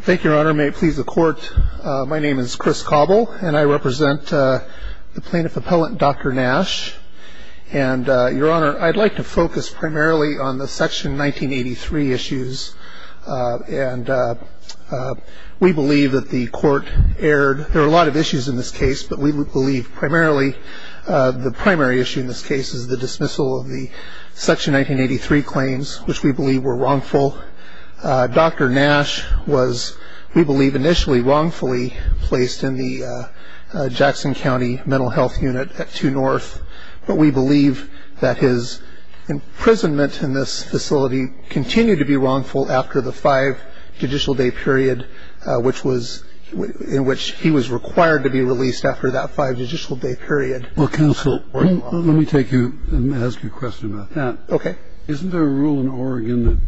Thank you, Your Honor. May it please the Court, my name is Chris Cobble and I represent the Plaintiff Appellant, Dr. Nash. And, Your Honor, I'd like to focus primarily on the Section 1983 issues. And we believe that the Court erred. There are a lot of issues in this case, but we believe primarily the primary issue in this case is the dismissal of the Section 1983 claims, which we believe were wrongful. Dr. Nash was, we believe, initially wrongfully placed in the Jackson County Mental Health Unit at 2 North. But we believe that his imprisonment in this facility continued to be wrongful after the five judicial day period in which he was required to be released after that five judicial day period. Well, counsel, let me take you and ask you a question about that. Okay. Isn't there a rule in Oregon that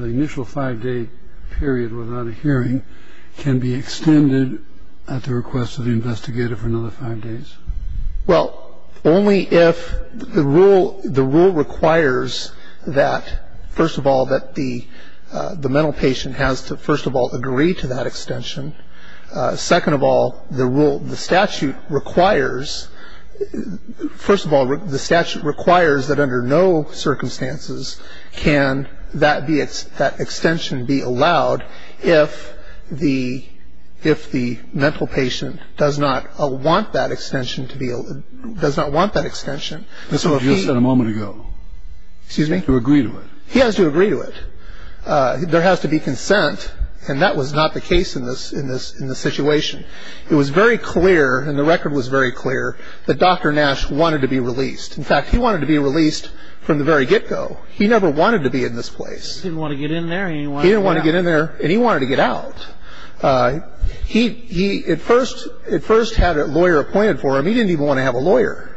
the initial five-day period without a hearing can be extended at the request of the investigator for another five days? Well, only if the rule requires that, first of all, that the mental patient has to, first of all, agree to that extension. Second of all, the rule, the statute requires, first of all, the statute requires that under no circumstances can that extension be allowed if the mental patient does not want that extension to be, does not want that extension. That's what you said a moment ago. Excuse me? To agree to it. He has to agree to it. There has to be consent, and that was not the case in this situation. It was very clear, and the record was very clear, that Dr. Nash wanted to be released. In fact, he wanted to be released from the very get-go. He never wanted to be in this place. He didn't want to get in there, and he wanted to get out. He didn't want to get in there, and he wanted to get out. He at first had a lawyer appointed for him. He didn't even want to have a lawyer.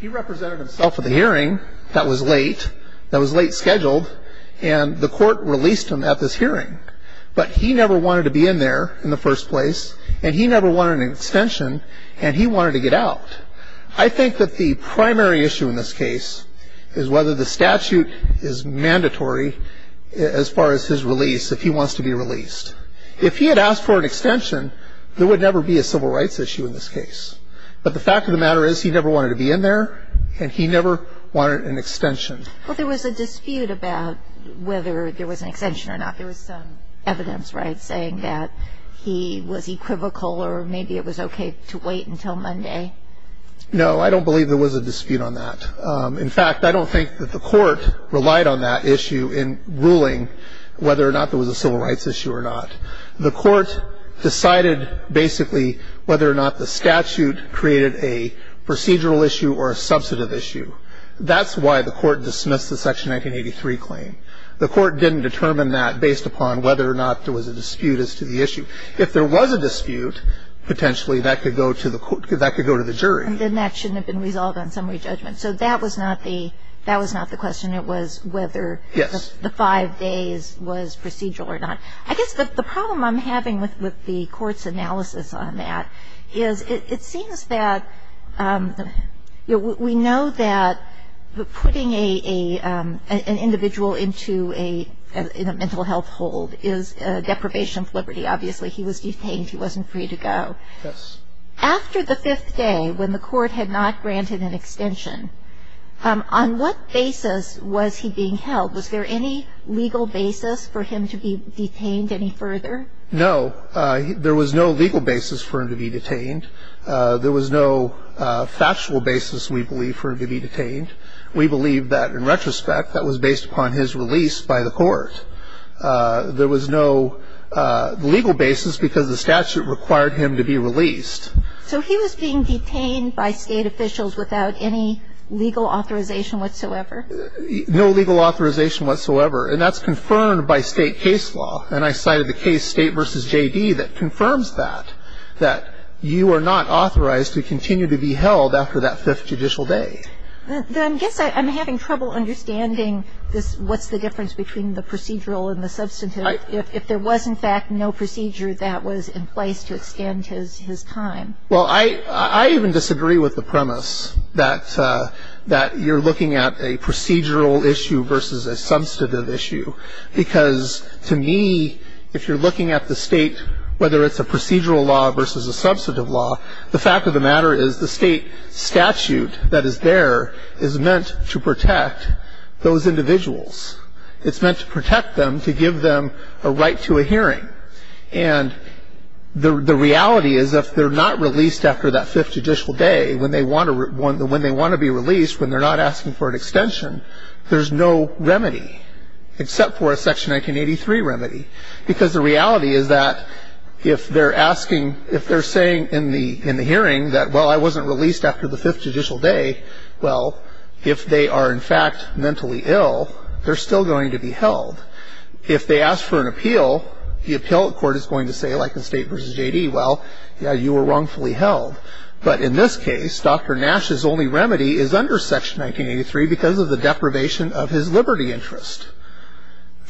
He represented himself at the hearing. That was late. That was late scheduled, and the court released him at this hearing. But he never wanted to be in there in the first place, and he never wanted an extension, and he wanted to get out. I think that the primary issue in this case is whether the statute is mandatory as far as his release, if he wants to be released. If he had asked for an extension, there would never be a civil rights issue in this case. But the fact of the matter is he never wanted to be in there, and he never wanted an extension. Well, there was a dispute about whether there was an extension or not. There was some evidence, right, saying that he was equivocal or maybe it was okay to wait until Monday. No, I don't believe there was a dispute on that. In fact, I don't think that the court relied on that issue in ruling whether or not there was a civil rights issue or not. The court decided basically whether or not the statute created a procedural issue or a substantive issue. That's why the court dismissed the Section 1983 claim. The court didn't determine that based upon whether or not there was a dispute as to the issue. If there was a dispute, potentially that could go to the jury. Then that shouldn't have been resolved on summary judgment. So that was not the question. It was whether the five days was procedural or not. Yes. I guess the problem I'm having with the court's analysis on that is it seems that we know that putting an individual into a mental health hold is deprivation of liberty. Obviously, he was detained. He wasn't free to go. Yes. After the fifth day, when the court had not granted an extension, on what basis was he being held? Was there any legal basis for him to be detained any further? No. There was no legal basis for him to be detained. There was no factual basis, we believe, for him to be detained. We believe that, in retrospect, that was based upon his release by the court. There was no legal basis because the statute required him to be released. So he was being detained by State officials without any legal authorization whatsoever? No legal authorization whatsoever. And that's confirmed by State case law. And I cited the case State v. J.D. that confirms that, that you are not authorized to continue to be held after that fifth judicial day. Then I guess I'm having trouble understanding this what's the difference between the procedural and the substantive, if there was, in fact, no procedure that was in place to extend his time. Well, I even disagree with the premise that you're looking at a procedural issue versus a substantive issue. Because, to me, if you're looking at the State, whether it's a procedural law versus a substantive law, the fact of the matter is the State statute that is there is meant to protect those individuals. It's meant to protect them, to give them a right to a hearing. And the reality is if they're not released after that fifth judicial day, when they want to be released, when they're not asking for an extension, there's no remedy except for a Section 1983 remedy. Because the reality is that if they're saying in the hearing that, well, I wasn't released after the fifth judicial day, well, if they are, in fact, mentally ill, they're still going to be held. If they ask for an appeal, the appellate court is going to say, like in State v. J.D., well, yeah, you were wrongfully held. But in this case, Dr. Nash's only remedy is under Section 1983 because of the deprivation of his liberty interest.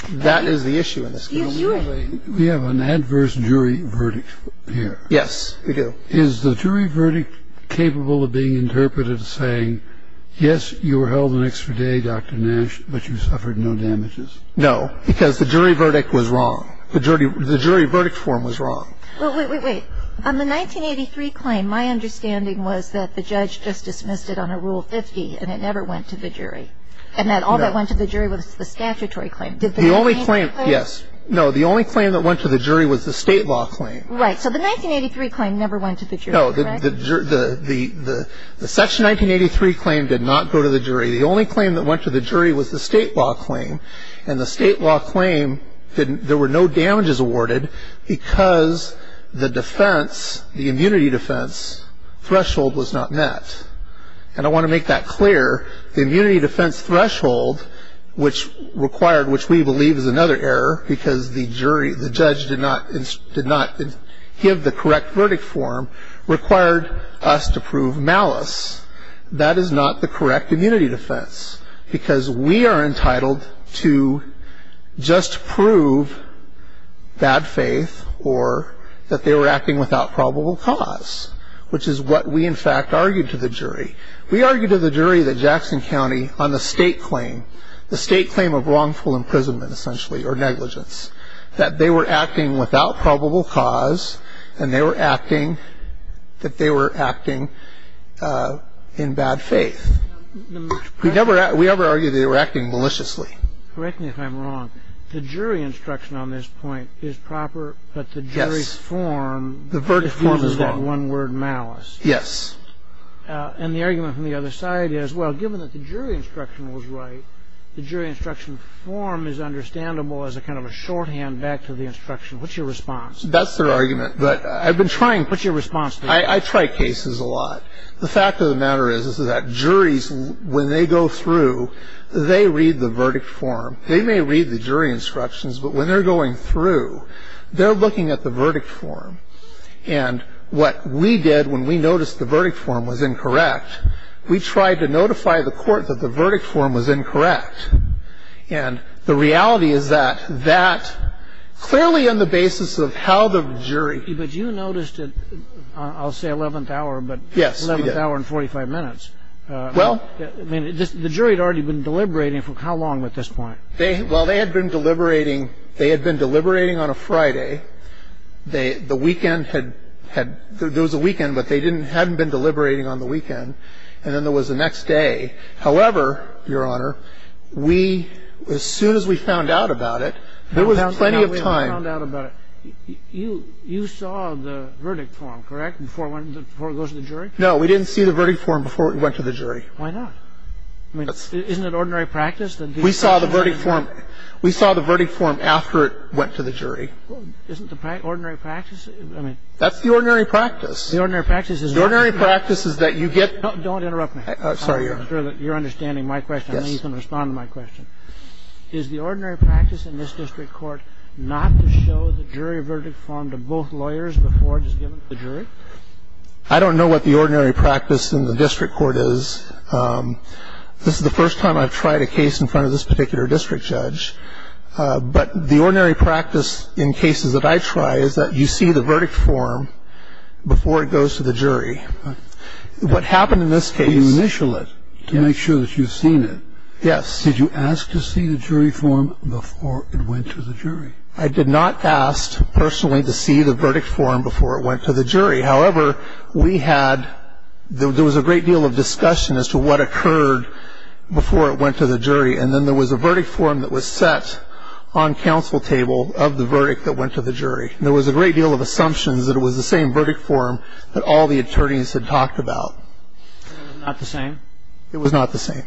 That is the issue in this case. We have an adverse jury verdict here. Yes, we do. Is the jury verdict capable of being interpreted as saying, yes, you were held an extra day, Dr. Nash, but you suffered no damages? No, because the jury verdict was wrong. The jury verdict form was wrong. Well, wait, wait, wait. On the 1983 claim, my understanding was that the judge just dismissed it on a Rule 50 and it never went to the jury. No. And that all that went to the jury was the statutory claim. Did the 1983 claim? The only claim, yes. No, the only claim that went to the jury was the State law claim. Right. So the 1983 claim never went to the jury, right? No. The Section 1983 claim did not go to the jury. The only claim that went to the jury was the State law claim. And the State law claim, there were no damages awarded because the defense, the immunity defense threshold was not met. And I want to make that clear. The immunity defense threshold, which required, which we believe is another error because the jury, the judge did not give the correct verdict form, required us to prove malice. That is not the correct immunity defense because we are entitled to just prove bad faith or that they were acting without probable cause, which is what we, in fact, argued to the jury. We argued to the jury that Jackson County, on the State claim, the State claim of wrongful imprisonment, essentially, or negligence, that they were acting without probable cause and they were acting, that they were acting in bad faith. We never argued that they were acting maliciously. Correct me if I'm wrong. The jury instruction on this point is proper, but the jury's form uses that one word, malice. Yes. And the argument from the other side is, well, given that the jury instruction was right, the jury instruction form is understandable as a kind of a shorthand back to the instruction. What's your response? That's their argument, but I've been trying. What's your response to that? I try cases a lot. The fact of the matter is, is that juries, when they go through, they read the verdict form. They may read the jury instructions, but when they're going through, they're looking at the verdict form. And what we did when we noticed the verdict form was incorrect, we tried to notify the court that the verdict form was incorrect. And the reality is that that, clearly on the basis of how the jury. But you noticed it, I'll say 11th hour, but. Yes, we did. 11th hour and 45 minutes. Well. I mean, the jury had already been deliberating for how long at this point? Well, they had been deliberating, they had been deliberating on a Friday. The weekend had, there was a weekend, but they hadn't been deliberating on the weekend. And then there was the next day. However, Your Honor, we, as soon as we found out about it, there was plenty of time. We found out about it. You saw the verdict form, correct, before it went, before it goes to the jury? No, we didn't see the verdict form before it went to the jury. Why not? I mean, isn't it ordinary practice that. We saw the verdict form. We saw the verdict form after it went to the jury. Isn't the ordinary practice, I mean. That's the ordinary practice. The ordinary practice is. The ordinary practice is that you get. Don't interrupt me. I'm sorry, Your Honor. I'm sure that you're understanding my question. Yes. I know you can respond to my question. Is the ordinary practice in this district court not to show the jury verdict form to both lawyers before it is given to the jury? I don't know what the ordinary practice in the district court is. This is the first time I've tried a case in front of this particular district judge. But the ordinary practice in cases that I try is that you see the verdict form before it goes to the jury. What happened in this case. You initial it to make sure that you've seen it. Yes. Did you ask to see the jury form before it went to the jury? I did not ask personally to see the verdict form before it went to the jury. However, we had. There was a great deal of discussion as to what occurred before it went to the jury. And then there was a verdict form that was set on counsel table of the verdict that went to the jury. And there was a great deal of assumptions that it was the same verdict form that all the attorneys had talked about. Not the same? It was not the same.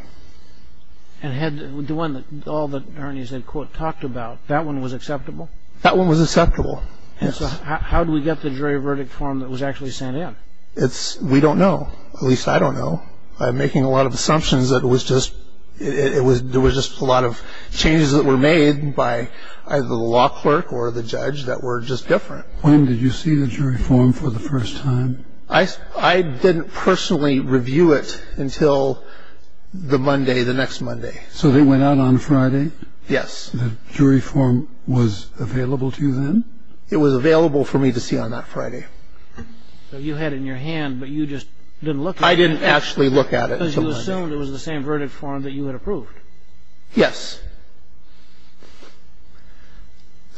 And had the one that all the attorneys had, quote, talked about, that one was acceptable? That one was acceptable. And so how do we get the jury verdict form that was actually sent in? We don't know. At least I don't know. I'm making a lot of assumptions that it was just a lot of changes that were made by either the law clerk or the judge that were just different. When did you see the jury form for the first time? I didn't personally review it until the Monday, the next Monday. So they went out on Friday? Yes. The jury form was available to you then? It was available for me to see on that Friday. So you had it in your hand, but you just didn't look at it? I didn't actually look at it. Because you assumed it was the same verdict form that you had approved. Yes.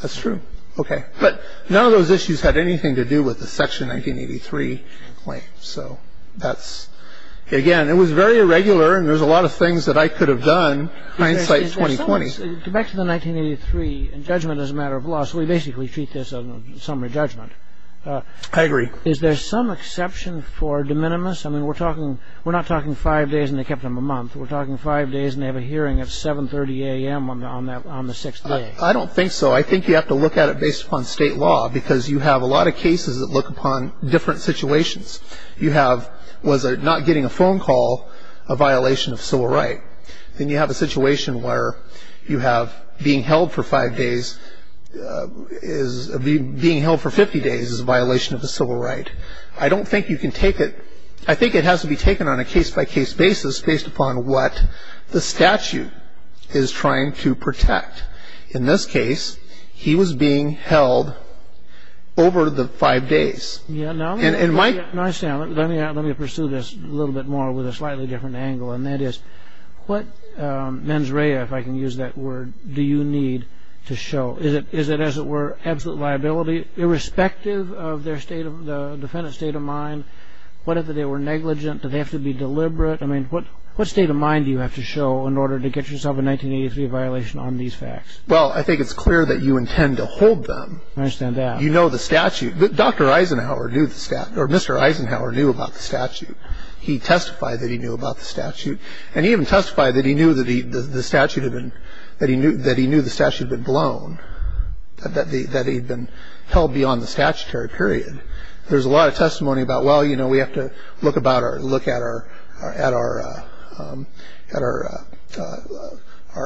That's true. Okay. But none of those issues had anything to do with the Section 1983 claim. So that's, again, it was very irregular, and there's a lot of things that I could have done, hindsight 2020. Back to the 1983 judgment as a matter of law. So we basically treat this as a summary judgment. I agree. Is there some exception for de minimis? I mean, we're talking, we're not talking five days and they kept them a month. We're talking five days and they have a hearing at 738. I don't think so. I think you have to look at it based upon state law, because you have a lot of cases that look upon different situations. You have, was it not getting a phone call a violation of civil right? Then you have a situation where you have being held for five days is, being held for 50 days is a violation of a civil right. I don't think you can take it, I think it has to be taken on a case-by-case basis, based upon what the statute is trying to protect. In this case, he was being held over the five days. Now I understand. Let me pursue this a little bit more with a slightly different angle, and that is what mens rea, if I can use that word, do you need to show? Is it, as it were, absolute liability irrespective of their state of, the defendant's state of mind? What if they were negligent? Do they have to be deliberate? I mean, what state of mind do you have to show in order to get yourself a 1983 violation on these facts? Well, I think it's clear that you intend to hold them. I understand that. You know the statute. Dr. Eisenhower knew the statute, or Mr. Eisenhower knew about the statute. He testified that he knew about the statute, and he even testified that he knew the statute had been, that he knew the statute had been blown, that he had been held beyond the statutory period. There's a lot of testimony about, well, you know, we have to look about or look at our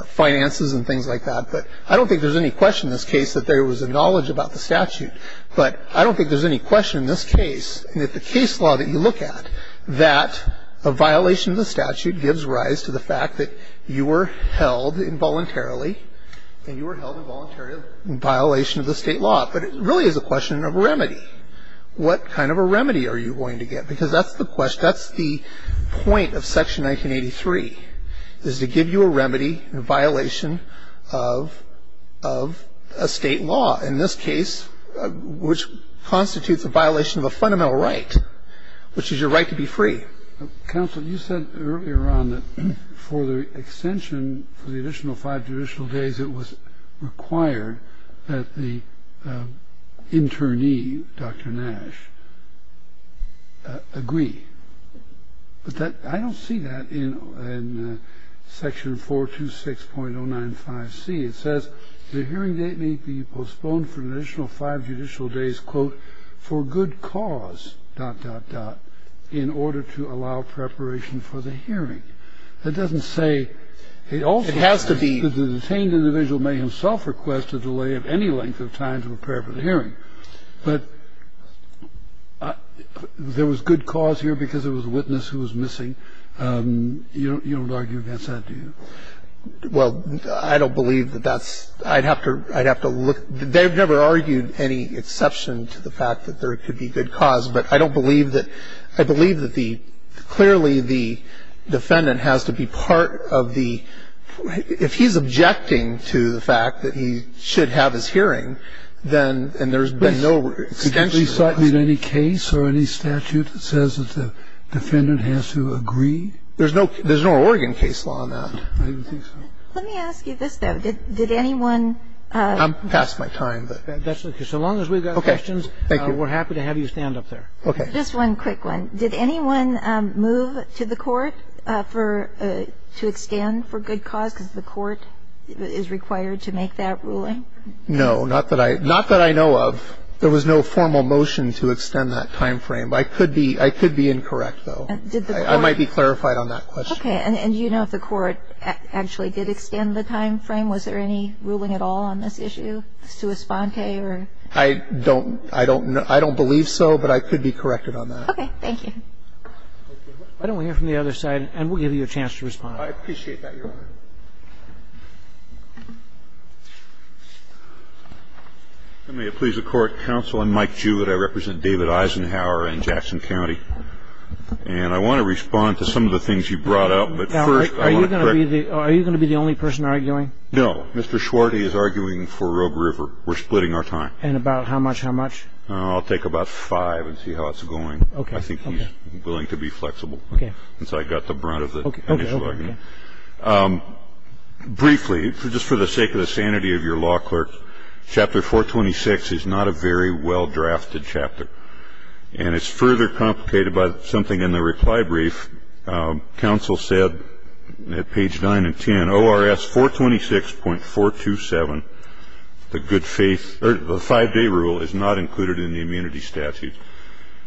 finances and things like that, but I don't think there's any question in this case that there was a knowledge about the statute. But I don't think there's any question in this case, that the case law that you look at, that a violation of the statute gives rise to the fact that you were held involuntarily, and you were held involuntarily in violation of the state law. But it really is a question of remedy. What kind of a remedy are you going to get? Because that's the question, that's the point of Section 1983, is to give you a remedy in violation of a state law. In this case, which constitutes a violation of a fundamental right, which is your right to be free. Counsel, you said earlier on that for the extension, for the additional five judicial days, it was required that the internee, Dr. Nash, agree. But I don't see that in Section 426.095C. It says the hearing date may be postponed for an additional five judicial days, quote, for good cause, dot, dot, dot, in order to allow preparation for the hearing. That doesn't say it also has to be for the detained individual. The individual may himself request a delay of any length of time to prepare for the hearing. But there was good cause here because there was a witness who was missing. You don't argue against that, do you? Well, I don't believe that that's – I'd have to look. They've never argued any exception to the fact that there could be good cause. But I don't believe that – I believe that the – clearly the defendant has to be part of the – if he's objecting to the fact that he should have his hearing, then – and there's been no extension. Please cite me in any case or any statute that says that the defendant has to agree. There's no – there's no Oregon case law on that. I don't think so. Let me ask you this, though. Did anyone – I'm past my time. That's okay. So long as we've got questions, we're happy to have you stand up there. Okay. Just one quick one. Did anyone move to the court for – to extend for good cause because the court is required to make that ruling? No, not that I – not that I know of. There was no formal motion to extend that time frame. I could be – I could be incorrect, though. Did the court – I might be clarified on that question. Okay. And do you know if the court actually did extend the time frame? Was there any ruling at all on this issue, sua sponte, or – I don't – I don't – I don't believe so, but I could be corrected on that. Okay. Thank you. Why don't we hear from the other side, and we'll give you a chance to respond. I appreciate that, Your Honor. May it please the court, counsel, I'm Mike Jewitt. I represent David Eisenhower in Jackson County. And I want to respond to some of the things you brought up, but first – Are you going to be the – are you going to be the only person arguing? No. Mr. Schwarty is arguing for Rogue River. We're splitting our time. And about how much? How much? I'll take about five and see how it's going. Okay. I think he's willing to be flexible. Okay. Since I got the brunt of the – Okay. Okay. Briefly, just for the sake of the sanity of your law clerks, Chapter 426 is not a very well-drafted chapter. And it's further complicated by something in the reply brief. Counsel said at page 9 and 10, ORS 426.427, the good faith – or the five-day rule is not included in the immunity statute.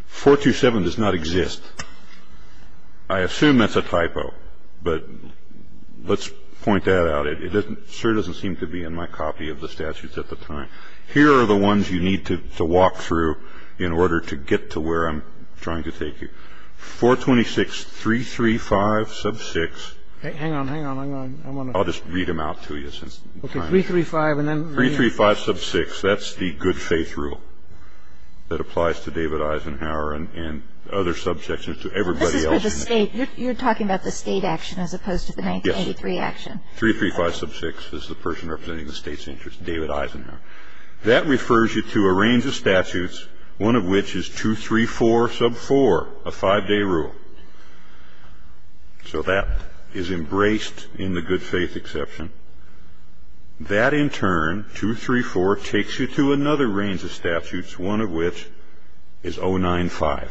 427 does not exist. I assume that's a typo. But let's point that out. It doesn't – sure doesn't seem to be in my copy of the statutes at the time. Here are the ones you need to walk through in order to get to where I'm trying to take you. 426.335 sub 6. Hang on. Hang on. Hang on. I want to – Okay. 335 and then – 335 sub 6. That's the good faith rule that applies to David Eisenhower and other subsections to everybody else. This is for the state. You're talking about the state action as opposed to the 1993 action. Yes. 335 sub 6 is the person representing the state's interest, David Eisenhower. That refers you to a range of statutes, one of which is 234 sub 4, a five-day rule. So that is embraced in the good faith exception. That, in turn, 234, takes you to another range of statutes, one of which is 095,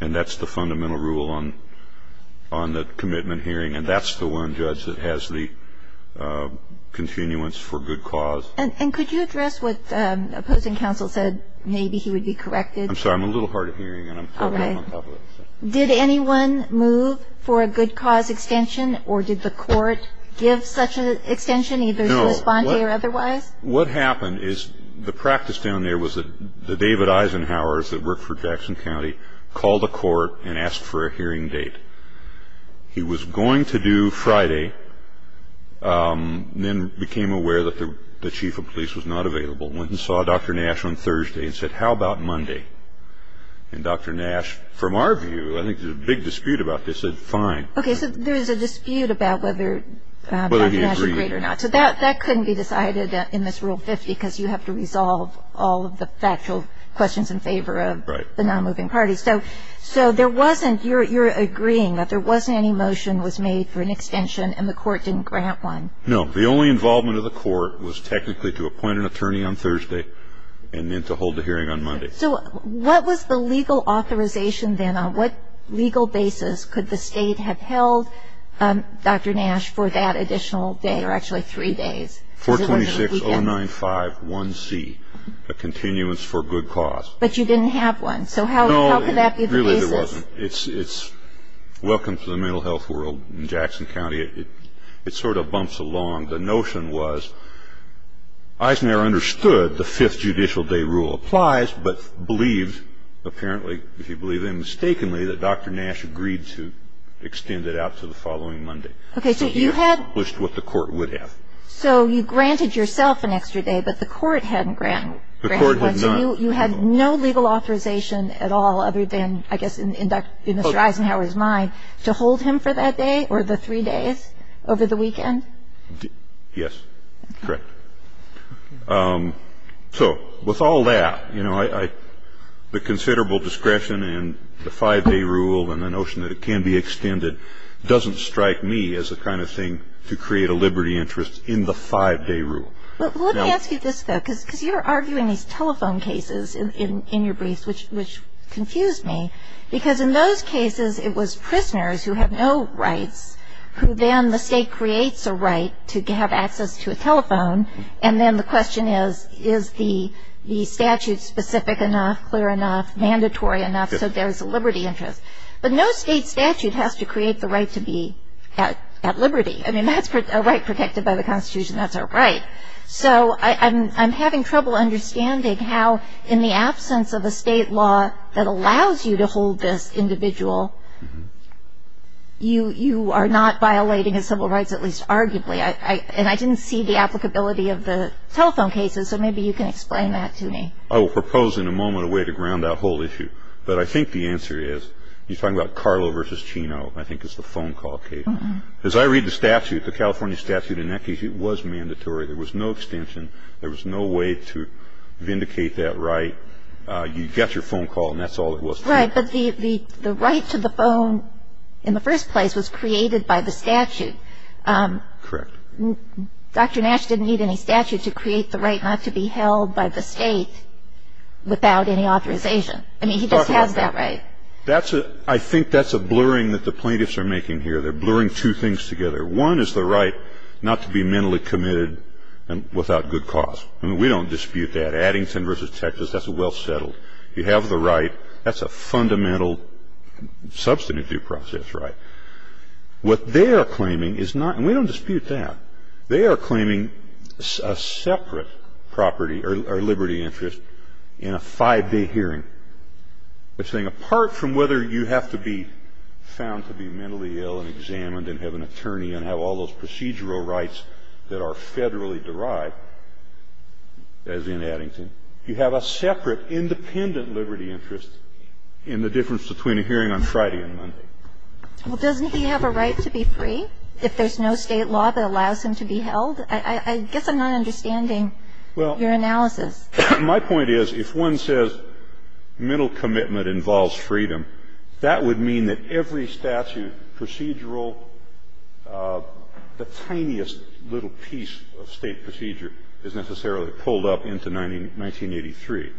and that's the fundamental rule on the commitment hearing, and that's the one, Judge, that has the continuance for good cause. And could you address what opposing counsel said? Maybe he would be corrected. I'm sorry. I'm a little hard of hearing, and I'm talking on top of it. Did anyone move for a good cause extension, or did the court give such an extension either to respond to or otherwise? No. What happened is the practice down there was that the David Eisenhowers that worked for Jackson County called the court and asked for a hearing date. He was going to do Friday, then became aware that the chief of police was not available, went and saw Dr. Nash on Thursday and said, how about Monday? And Dr. Nash, from our view, I think there's a big dispute about this, said fine. Okay. So there's a dispute about whether Dr. Nash agreed or not. Whether he agreed. So that couldn't be decided in this Rule 50, because you have to resolve all of the factual questions in favor of the non-moving parties. Right. So there wasn't you're agreeing that there wasn't any motion was made for an extension, and the court didn't grant one. No. The only involvement of the court was technically to appoint an attorney on Thursday and then to hold the hearing on Monday. So what was the legal authorization then? On what legal basis could the state have held Dr. Nash for that additional day or actually three days? 426-095-1C, a continuance for good cause. But you didn't have one. So how could that be the basis? No, really there wasn't. It's welcome to the mental health world in Jackson County. It sort of bumps along. The notion was Eisenhower understood the Fifth Judicial Day Rule applies, but believes, apparently, if you believe it mistakenly, that Dr. Nash agreed to extend it out to the following Monday. So he accomplished what the court would have. So you granted yourself an extra day, but the court hadn't granted one. The court had none. So you had no legal authorization at all other than, I guess, in Mr. Eisenhower's mind, to hold him for that day or the three days over the weekend? Yes, correct. So with all that, you know, the considerable discretion and the five-day rule and the notion that it can be extended doesn't strike me as the kind of thing to create a liberty interest in the five-day rule. Well, let me ask you this, though, because you're arguing these telephone cases in your briefs, which confused me, because in those cases it was prisoners who have no rights who then the state creates a right to have access to a telephone, and then the question is, is the statute specific enough, clear enough, mandatory enough, so there is a liberty interest. But no state statute has to create the right to be at liberty. I mean, that's a right protected by the Constitution. That's our right. So I'm having trouble understanding how, in the absence of a state law that allows you to hold this individual, you are not violating his civil rights, at least arguably. And I didn't see the applicability of the telephone cases, so maybe you can explain that to me. I will propose in a moment a way to ground that whole issue. But I think the answer is, you're talking about Carlo v. Chino, I think is the phone call case. As I read the statute, the California statute in that case, it was mandatory. There was no extension. There was no way to vindicate that right. You got your phone call, and that's all it was. Right. But the right to the phone in the first place was created by the statute. Correct. Dr. Nash didn't need any statute to create the right not to be held by the state without any authorization. I mean, he just has that right. I think that's a blurring that the plaintiffs are making here. They're blurring two things together. One is the right not to be mentally committed without good cause. I mean, we don't dispute that. Addington v. Texas, that's a well settled. You have the right. That's a fundamental substantive due process right. What they are claiming is not, and we don't dispute that, they are claiming a separate property or liberty interest in a five-day hearing. They're saying apart from whether you have to be found to be mentally ill and examined and have an attorney and have all those procedural rights that are federally derived, as in Addington, you have a separate independent liberty interest in the difference between a hearing on Friday and Monday. Well, doesn't he have a right to be free if there's no state law that allows him to be held? I guess I'm not understanding your analysis. Well, my point is if one says mental commitment involves freedom, that would mean that every statute, procedural, the tiniest little piece of state procedure is necessarily pulled up into 1983.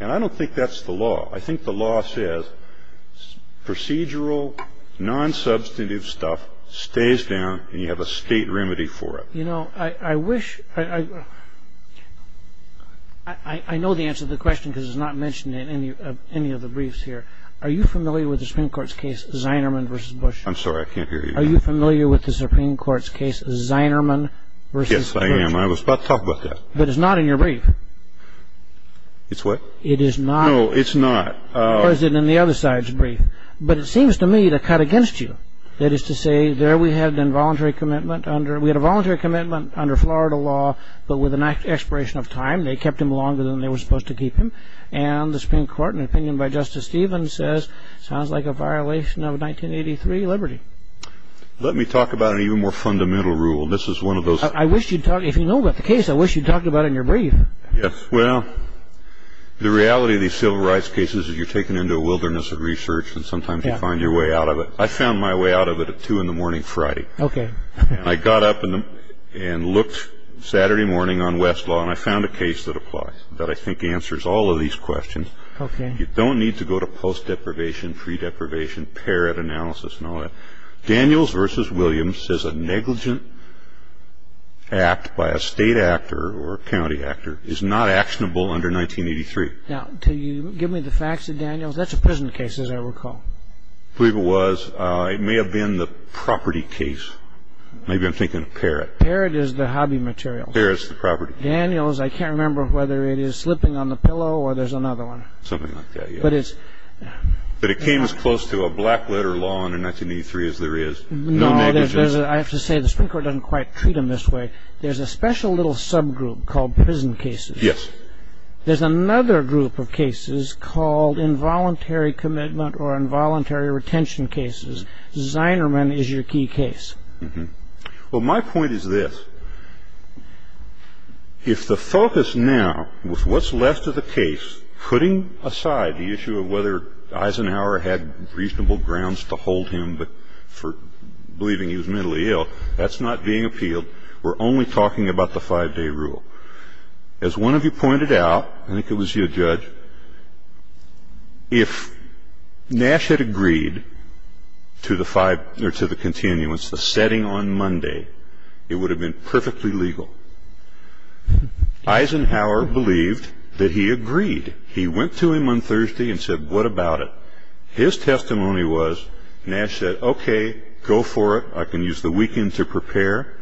And I don't think that's the law. I think the law says procedural, non-substantive stuff stays down and you have a state remedy for it. You know, I wish, I know the answer to the question because it's not mentioned in any of the briefs here. Are you familiar with the Supreme Court's case, Zinerman v. Bush? I'm sorry, I can't hear you. Are you familiar with the Supreme Court's case, Zinerman v. Church? Yes, I am. I was about to talk about that. But it's not in your brief. It's what? It is not. No, it's not. Or is it in the other side's brief? But it seems to me to cut against you. That is to say, there we had an involuntary commitment under ‑‑ we had a voluntary commitment under Florida law, but with an expiration of time. They kept him longer than they were supposed to keep him. And the Supreme Court, in an opinion by Justice Stevens, says, sounds like a violation of 1983 liberty. Let me talk about an even more fundamental rule. This is one of those. I wish you'd talk, if you know about the case, I wish you'd talk about it in your brief. Yes, well, the reality of these civil rights cases is you're taken into a wilderness of research and sometimes you find your way out of it. I found my way out of it at 2 in the morning Friday. Okay. I got up and looked Saturday morning on Westlaw and I found a case that applies, that I think answers all of these questions. Okay. You don't need to go to post‑deprivation, pre‑deprivation, parrot analysis and all that. Daniels v. Williams says a negligent act by a state actor or a county actor is not actionable under 1983. Now, can you give me the facts of Daniels? That's a prison case, as I recall. I believe it was. It may have been the property case. Maybe I'm thinking of parrot. Parrot is the hobby material. Parrot is the property. Daniels, I can't remember whether it is slipping on the pillow or there's another one. Something like that, yes. But it's ‑‑ But it came as close to a black letter law under 1983 as there is. No negligence. No, I have to say the Supreme Court doesn't quite treat them this way. There's a special little subgroup called prison cases. Yes. There's another group of cases called involuntary commitment or involuntary retention cases. Zinerman is your key case. Well, my point is this. If the focus now was what's left of the case, putting aside the issue of whether Eisenhower had reasonable grounds to hold him for believing he was mentally ill, that's not being appealed. We're only talking about the 5‑day rule. As one of you pointed out, I think it was you, Judge, if Nash had agreed to the 5 or to the setting on Monday, it would have been perfectly legal. Eisenhower believed that he agreed. He went to him on Thursday and said, what about it? His testimony was, Nash said, okay, go for it. I can use the weekend to prepare.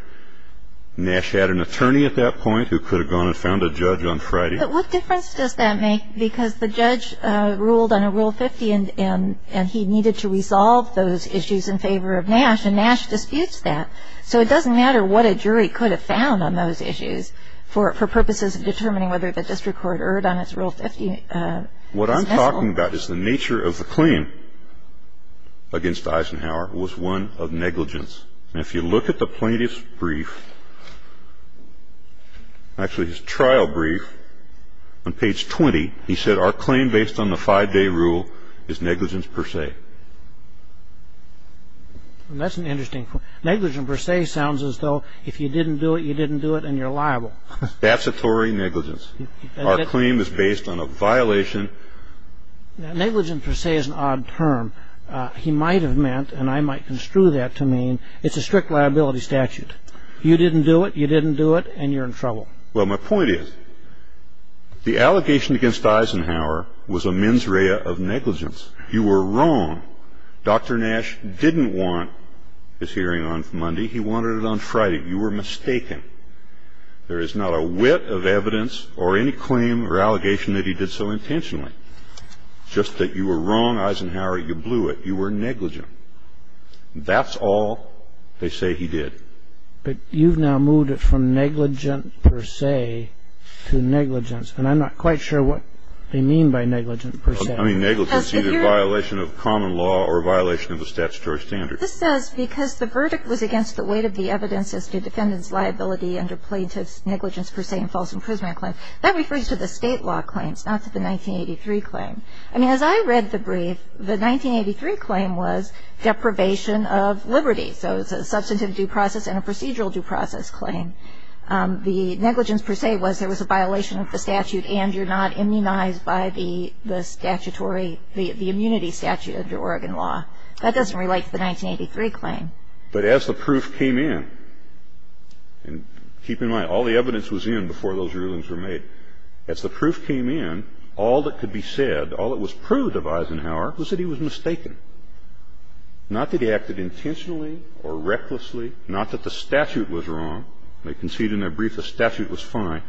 Nash had an attorney at that point who could have gone and found a judge on Friday. But what difference does that make? Because the judge ruled on a Rule 50 and he needed to resolve those issues in favor of Nash, and Nash disputes that. So it doesn't matter what a jury could have found on those issues for purposes of determining whether the district court erred on its Rule 50. What I'm talking about is the nature of the claim against Eisenhower was one of negligence. And if you look at the plaintiff's brief, actually his trial brief, on page 20, he said, our claim based on the 5‑day rule is negligence per se. That's an interesting point. Negligence per se sounds as though if you didn't do it, you didn't do it and you're liable. That's a Tory negligence. Our claim is based on a violation. Negligence per se is an odd term. He might have meant, and I might construe that to mean, it's a strict liability statute. You didn't do it, you didn't do it, and you're in trouble. Well, my point is the allegation against Eisenhower was a mens rea of negligence. You were wrong. Dr. Nash didn't want his hearing on Monday. He wanted it on Friday. You were mistaken. There is not a whit of evidence or any claim or allegation that he did so intentionally. Just that you were wrong, Eisenhower. You blew it. You were negligent. That's all they say he did. But you've now moved it from negligent per se to negligence. And I'm not quite sure what they mean by negligent per se. I mean, negligence is either a violation of common law or a violation of a statutory standard. This says, because the verdict was against the weight of the evidence as to defendant's liability under plaintiff's negligence That refers to the state law claims, not to the 1983 claim. I mean, as I read the brief, the 1983 claim was deprivation of liberty. So it's a substantive due process and a procedural due process claim. The negligence per se was there was a violation of the statute and you're not immunized by the immunity statute under Oregon law. That doesn't relate to the 1983 claim. But as the proof came in, and keep in mind, all the evidence was in before those rulings were made. As the proof came in, all that could be said, all that was proved of Eisenhower was that he was mistaken. Not that he acted intentionally or recklessly. Not that the statute was wrong. They conceded in their brief the statute was fine.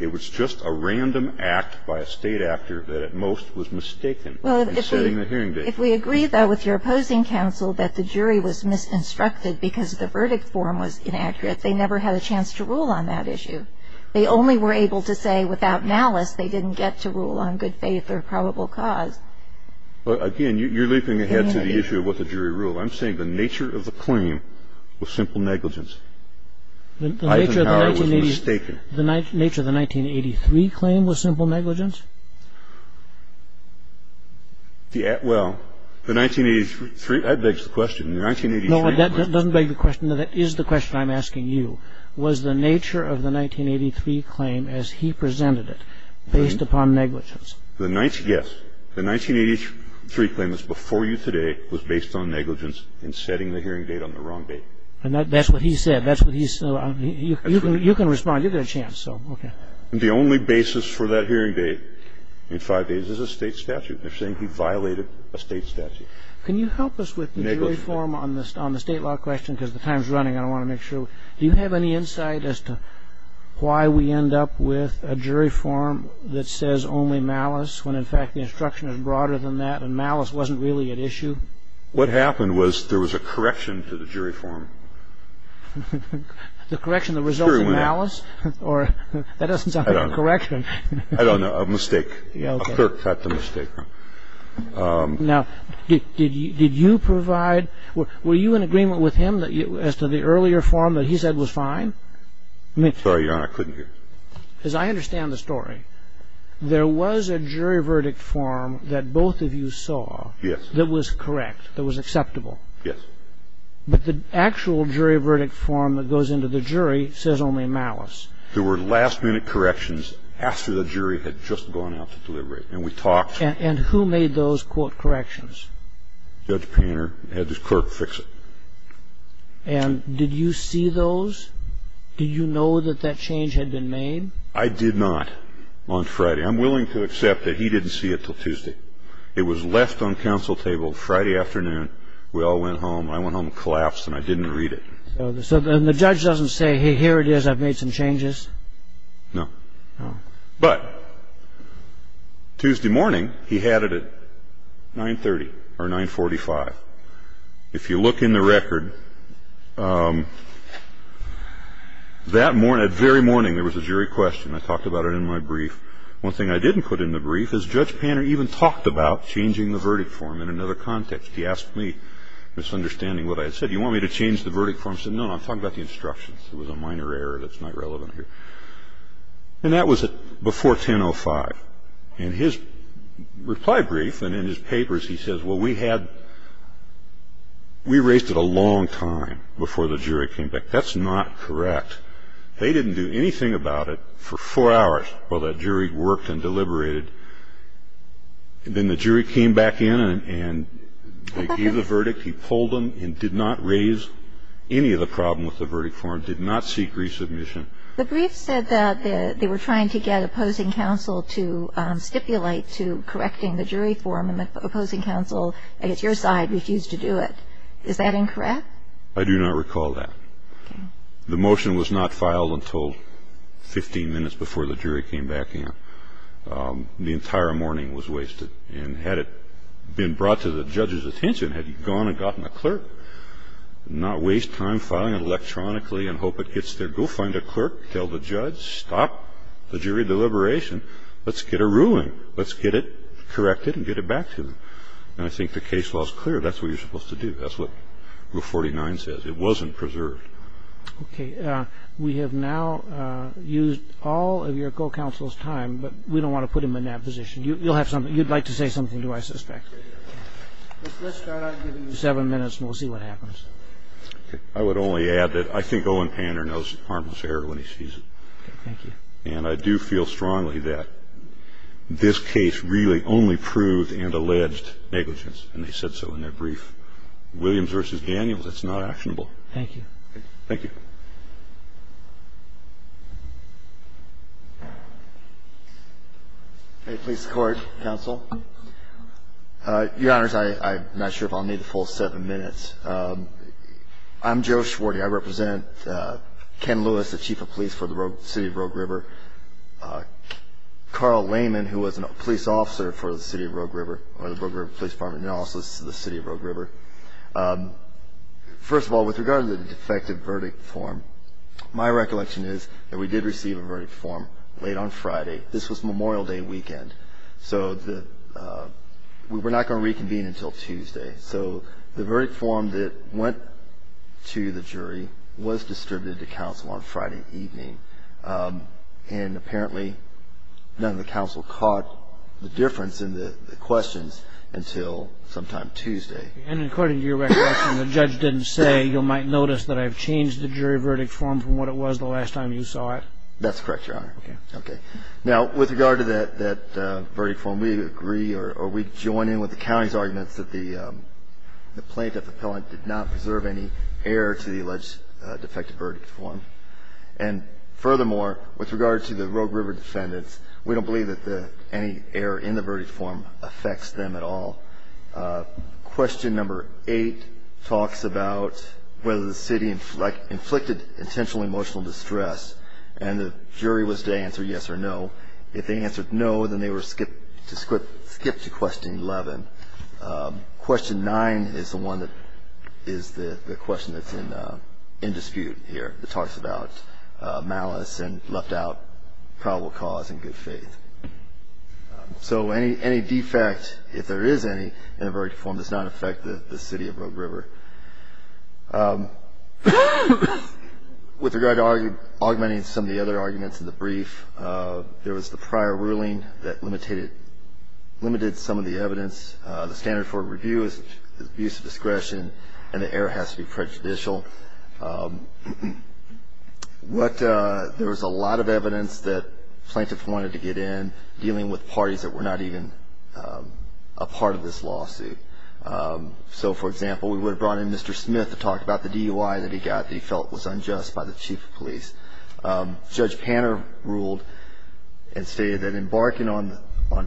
It was just a random act by a state actor that at most was mistaken in setting the hearing date. If we agree, though, with your opposing counsel that the jury was misinstructed because the verdict form was inaccurate, they never had a chance to rule on that issue. They only were able to say without malice they didn't get to rule on good faith or probable cause. But again, you're leaping ahead to the issue of what the jury ruled. I'm saying the nature of the claim was simple negligence. Eisenhower was mistaken. The nature of the 1983 claim was simple negligence? Well, the 1983, that begs the question. The 1983. No, that doesn't beg the question. No, that is the question I'm asking you. Was the nature of the 1983 claim as he presented it based upon negligence? Yes. The 1983 claim that's before you today was based on negligence in setting the hearing date on the wrong date. And that's what he said. That's what he said. You can respond. You get a chance. So, okay. The only basis for that hearing date in five days is a state statute. They're saying he violated a state statute. Can you help us with the jury form on the state law question because the time is running. I want to make sure. Do you have any insight as to why we end up with a jury form that says only malice when, in fact, the instruction is broader than that and malice wasn't really at issue? What happened was there was a correction to the jury form. The correction that resulted in malice? That doesn't sound like a correction. I don't know. A mistake. That's a mistake. Now, did you provide, were you in agreement with him as to the earlier form that he said was fine? I'm sorry, Your Honor. I couldn't hear. As I understand the story, there was a jury verdict form that both of you saw that was correct, that was acceptable. Yes. But the actual jury verdict form that goes into the jury says only malice. There were last-minute corrections after the jury had just gone out to deliberate, and we talked. And who made those, quote, corrections? Judge Painter had his clerk fix it. And did you see those? Did you know that that change had been made? I did not on Friday. I'm willing to accept that he didn't see it until Tuesday. It was left on council table Friday afternoon. We all went home. I went home and collapsed, and I didn't read it. So the judge doesn't say, hey, here it is, I've made some changes? No. No. But Tuesday morning, he had it at 9.30 or 9.45. If you look in the record, that morning, that very morning, there was a jury question. I talked about it in my brief. One thing I didn't put in the brief is Judge Painter even talked about changing the verdict form in another context. He asked me, misunderstanding what I had said, do you want me to change the verdict form? I said, no, no, I'm talking about the instructions. It was a minor error that's not relevant here. And that was before 10.05. In his reply brief and in his papers, he says, well, we raised it a long time before the jury came back. That's not correct. They didn't do anything about it for four hours. Well, that jury worked and deliberated. Then the jury came back in and they gave the verdict. He pulled them and did not raise any of the problem with the verdict form, did not seek resubmission. The brief said that they were trying to get opposing counsel to stipulate to correcting the jury form, and the opposing counsel, I guess your side, refused to do it. Is that incorrect? I do not recall that. The motion was not filed until 15 minutes before the jury came back in. The entire morning was wasted. And had it been brought to the judge's attention, had he gone and gotten a clerk, not waste time filing it electronically and hope it gets there, go find a clerk, tell the judge, stop the jury deliberation. Let's get a ruling. Let's get it corrected and get it back to them. And I think the case law is clear. That's what you're supposed to do. That's what Rule 49 says. It wasn't preserved. Okay. We have now used all of your co-counsel's time, but we don't want to put him in that position. You'll have something. You'd like to say something, do I suspect? Let's start out giving you seven minutes and we'll see what happens. I would only add that I think Owen Panner knows harmless error when he sees it. Thank you. And I do feel strongly that this case really only proved and alleged negligence, and they said so in their brief. Williams v. Daniels, it's not actionable. Thank you. Thank you. A police court counsel. Your Honors, I'm not sure if I'll need the full seven minutes. I'm Joe Schwarty. I represent Ken Lewis, the Chief of Police for the City of Rogue River. Carl Lehman, who was a police officer for the City of Rogue River, or the Rogue River Police Department, and also the City of Rogue River. First of all, with regard to the defective verdict form, my recollection is that we did receive a verdict form late on Friday. This was Memorial Day weekend, so we were not going to reconvene until Tuesday. So the verdict form that went to the jury was distributed to counsel on Friday evening, and apparently none of the counsel caught the difference in the questions until sometime Tuesday. And according to your recollection, the judge didn't say, you might notice that I've changed the jury verdict form from what it was the last time you saw it? That's correct, Your Honor. Okay. Okay. Now, with regard to that verdict form, we agree, or we join in with the county's arguments, that the plaintiff appellant did not preserve any error to the alleged defective verdict form. And furthermore, with regard to the Rogue River defendants, we don't believe that any error in the verdict form affects them at all. Question number eight talks about whether the city inflicted intentional emotional distress, and the jury was to answer yes or no. If they answered no, then they were to skip to question 11. Question nine is the one that is the question that's in dispute here. It talks about malice and left out probable cause and good faith. So any defect, if there is any, in a verdict form does not affect the city of Rogue River. With regard to augmenting some of the other arguments in the brief, there was the prior ruling that limited some of the evidence. The standard for review is abuse of discretion, and the error has to be prejudicial. There was a lot of evidence that plaintiffs wanted to get in, dealing with parties that were not even a part of this lawsuit. So, for example, we would have brought in Mr. Smith to talk about the DUI that he got that he felt was unjust by the chief of police. Judge Panner ruled and stated that embarking on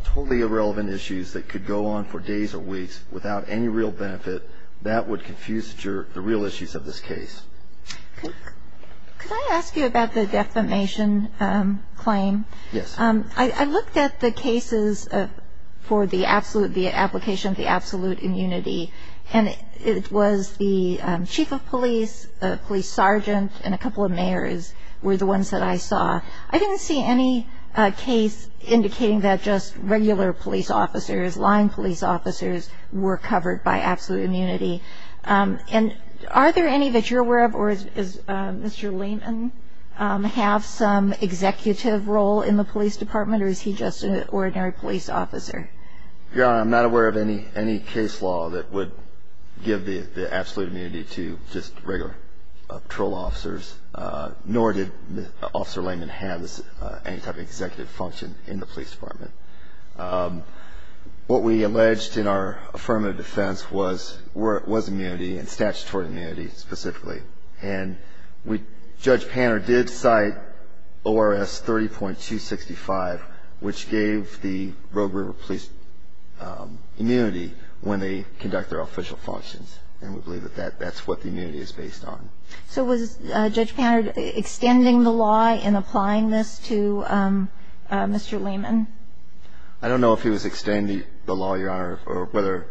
totally irrelevant issues that could go on for days or weeks without any real benefit, that would confuse the real issues of this case. Could I ask you about the defamation claim? Yes. I looked at the cases for the application of the absolute immunity, and it was the chief of police, the police sergeant, and a couple of mayors were the ones that I saw. I didn't see any case indicating that just regular police officers, line police officers were covered by absolute immunity. And are there any that you're aware of, or does Mr. Lehman have some executive role in the police department, or is he just an ordinary police officer? Your Honor, I'm not aware of any case law that would give the absolute immunity to just regular patrol officers, nor did Officer Lehman have any type of executive function in the police department. What we alleged in our affirmative defense was immunity, and statutory immunity specifically. And Judge Panner did cite ORS 30.265, which gave the Rogue River Police immunity when they conduct their official functions, and we believe that that's what the immunity is based on. So was Judge Panner extending the law in applying this to Mr. Lehman? I don't know if he was extending the law, Your Honor, or whether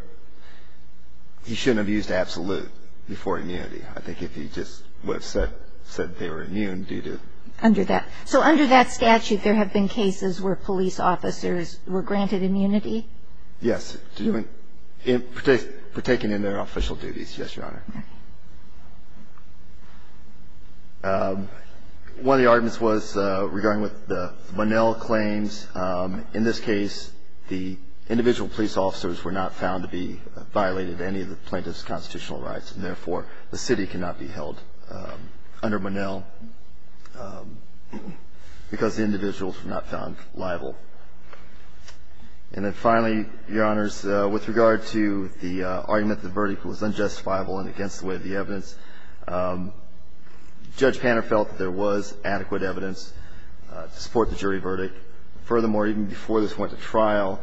he shouldn't have used absolute before immunity. I think if he just would have said they were immune due to. Under that. So under that statute, there have been cases where police officers were granted immunity? Yes, for taking in their official duties. Yes, Your Honor. One of the arguments was regarding what the Bunnell claims. In this case, the individual police officers were not found to be violated any of the plaintiff's constitutional rights, and therefore the city cannot be held under Bunnell because the individuals were not found liable. And then finally, Your Honors, with regard to the argument that the verdict was unjustifiable and against the way of the evidence, Judge Panner felt that there was adequate evidence to support the jury verdict. Furthermore, even before this went to trial,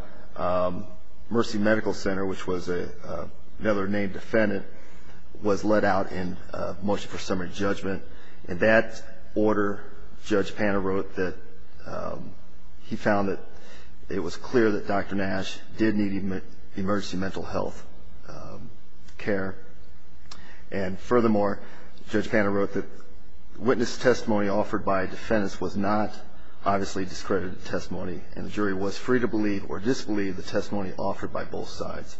Mercy Medical Center, which was another named defendant, was let out in motion for summary judgment. In that order, Judge Panner wrote that he found that it was clear that Dr. Nash did need emergency mental health care. And furthermore, Judge Panner wrote that witness testimony offered by a defendant was not obviously discredited testimony, and the jury was free to believe or disbelieve the testimony offered by both sides.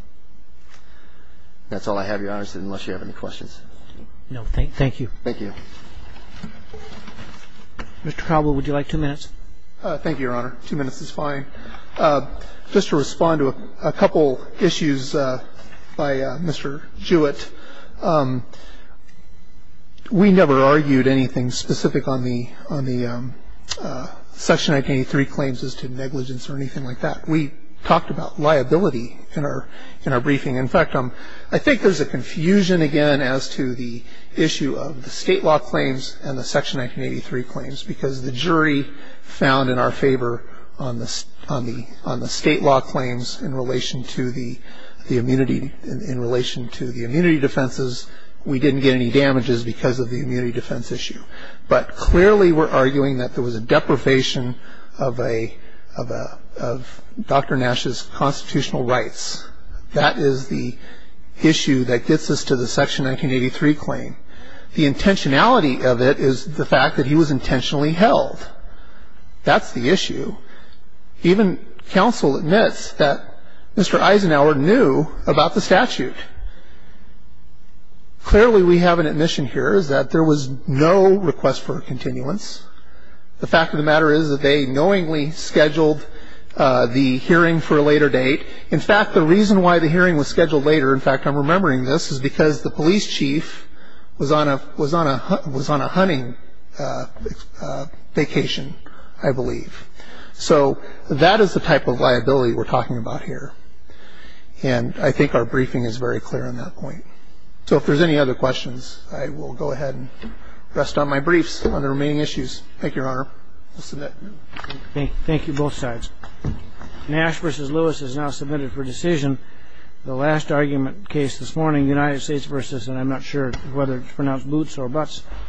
That's all I have, Your Honors, unless you have any questions. No. Thank you. Thank you. Mr. Cowbell, would you like two minutes? Thank you, Your Honor. Two minutes is fine. Just to respond to a couple issues by Mr. Jewett, we never argued anything specific on the Section 1983 claims as to negligence or anything like that. We talked about liability in our briefing. In fact, I think there's a confusion, again, as to the issue of the state law claims and the Section 1983 claims, because the jury found in our favor on the state law claims in relation to the immunity defenses, we didn't get any damages because of the immunity defense issue. But clearly we're arguing that there was a deprivation of Dr. Nash's constitutional rights. That is the issue that gets us to the Section 1983 claim. The intentionality of it is the fact that he was intentionally held. That's the issue. Even counsel admits that Mr. Eisenhower knew about the statute. Clearly we have an admission here is that there was no request for a continuance. The fact of the matter is that they knowingly scheduled the hearing for a later date. In fact, the reason why the hearing was scheduled later, in fact, I'm remembering this, is because the police chief was on a hunting vacation, I believe. So that is the type of liability we're talking about here. And I think our briefing is very clear on that point. So if there's any other questions, I will go ahead and rest on my briefs on the remaining issues. Thank you, Your Honor. I'll submit. Thank you, both sides. Nash v. Lewis is now submitted for decision. The last argument case this morning, United States v. and I'm not sure whether to pronounce Boots or Butts.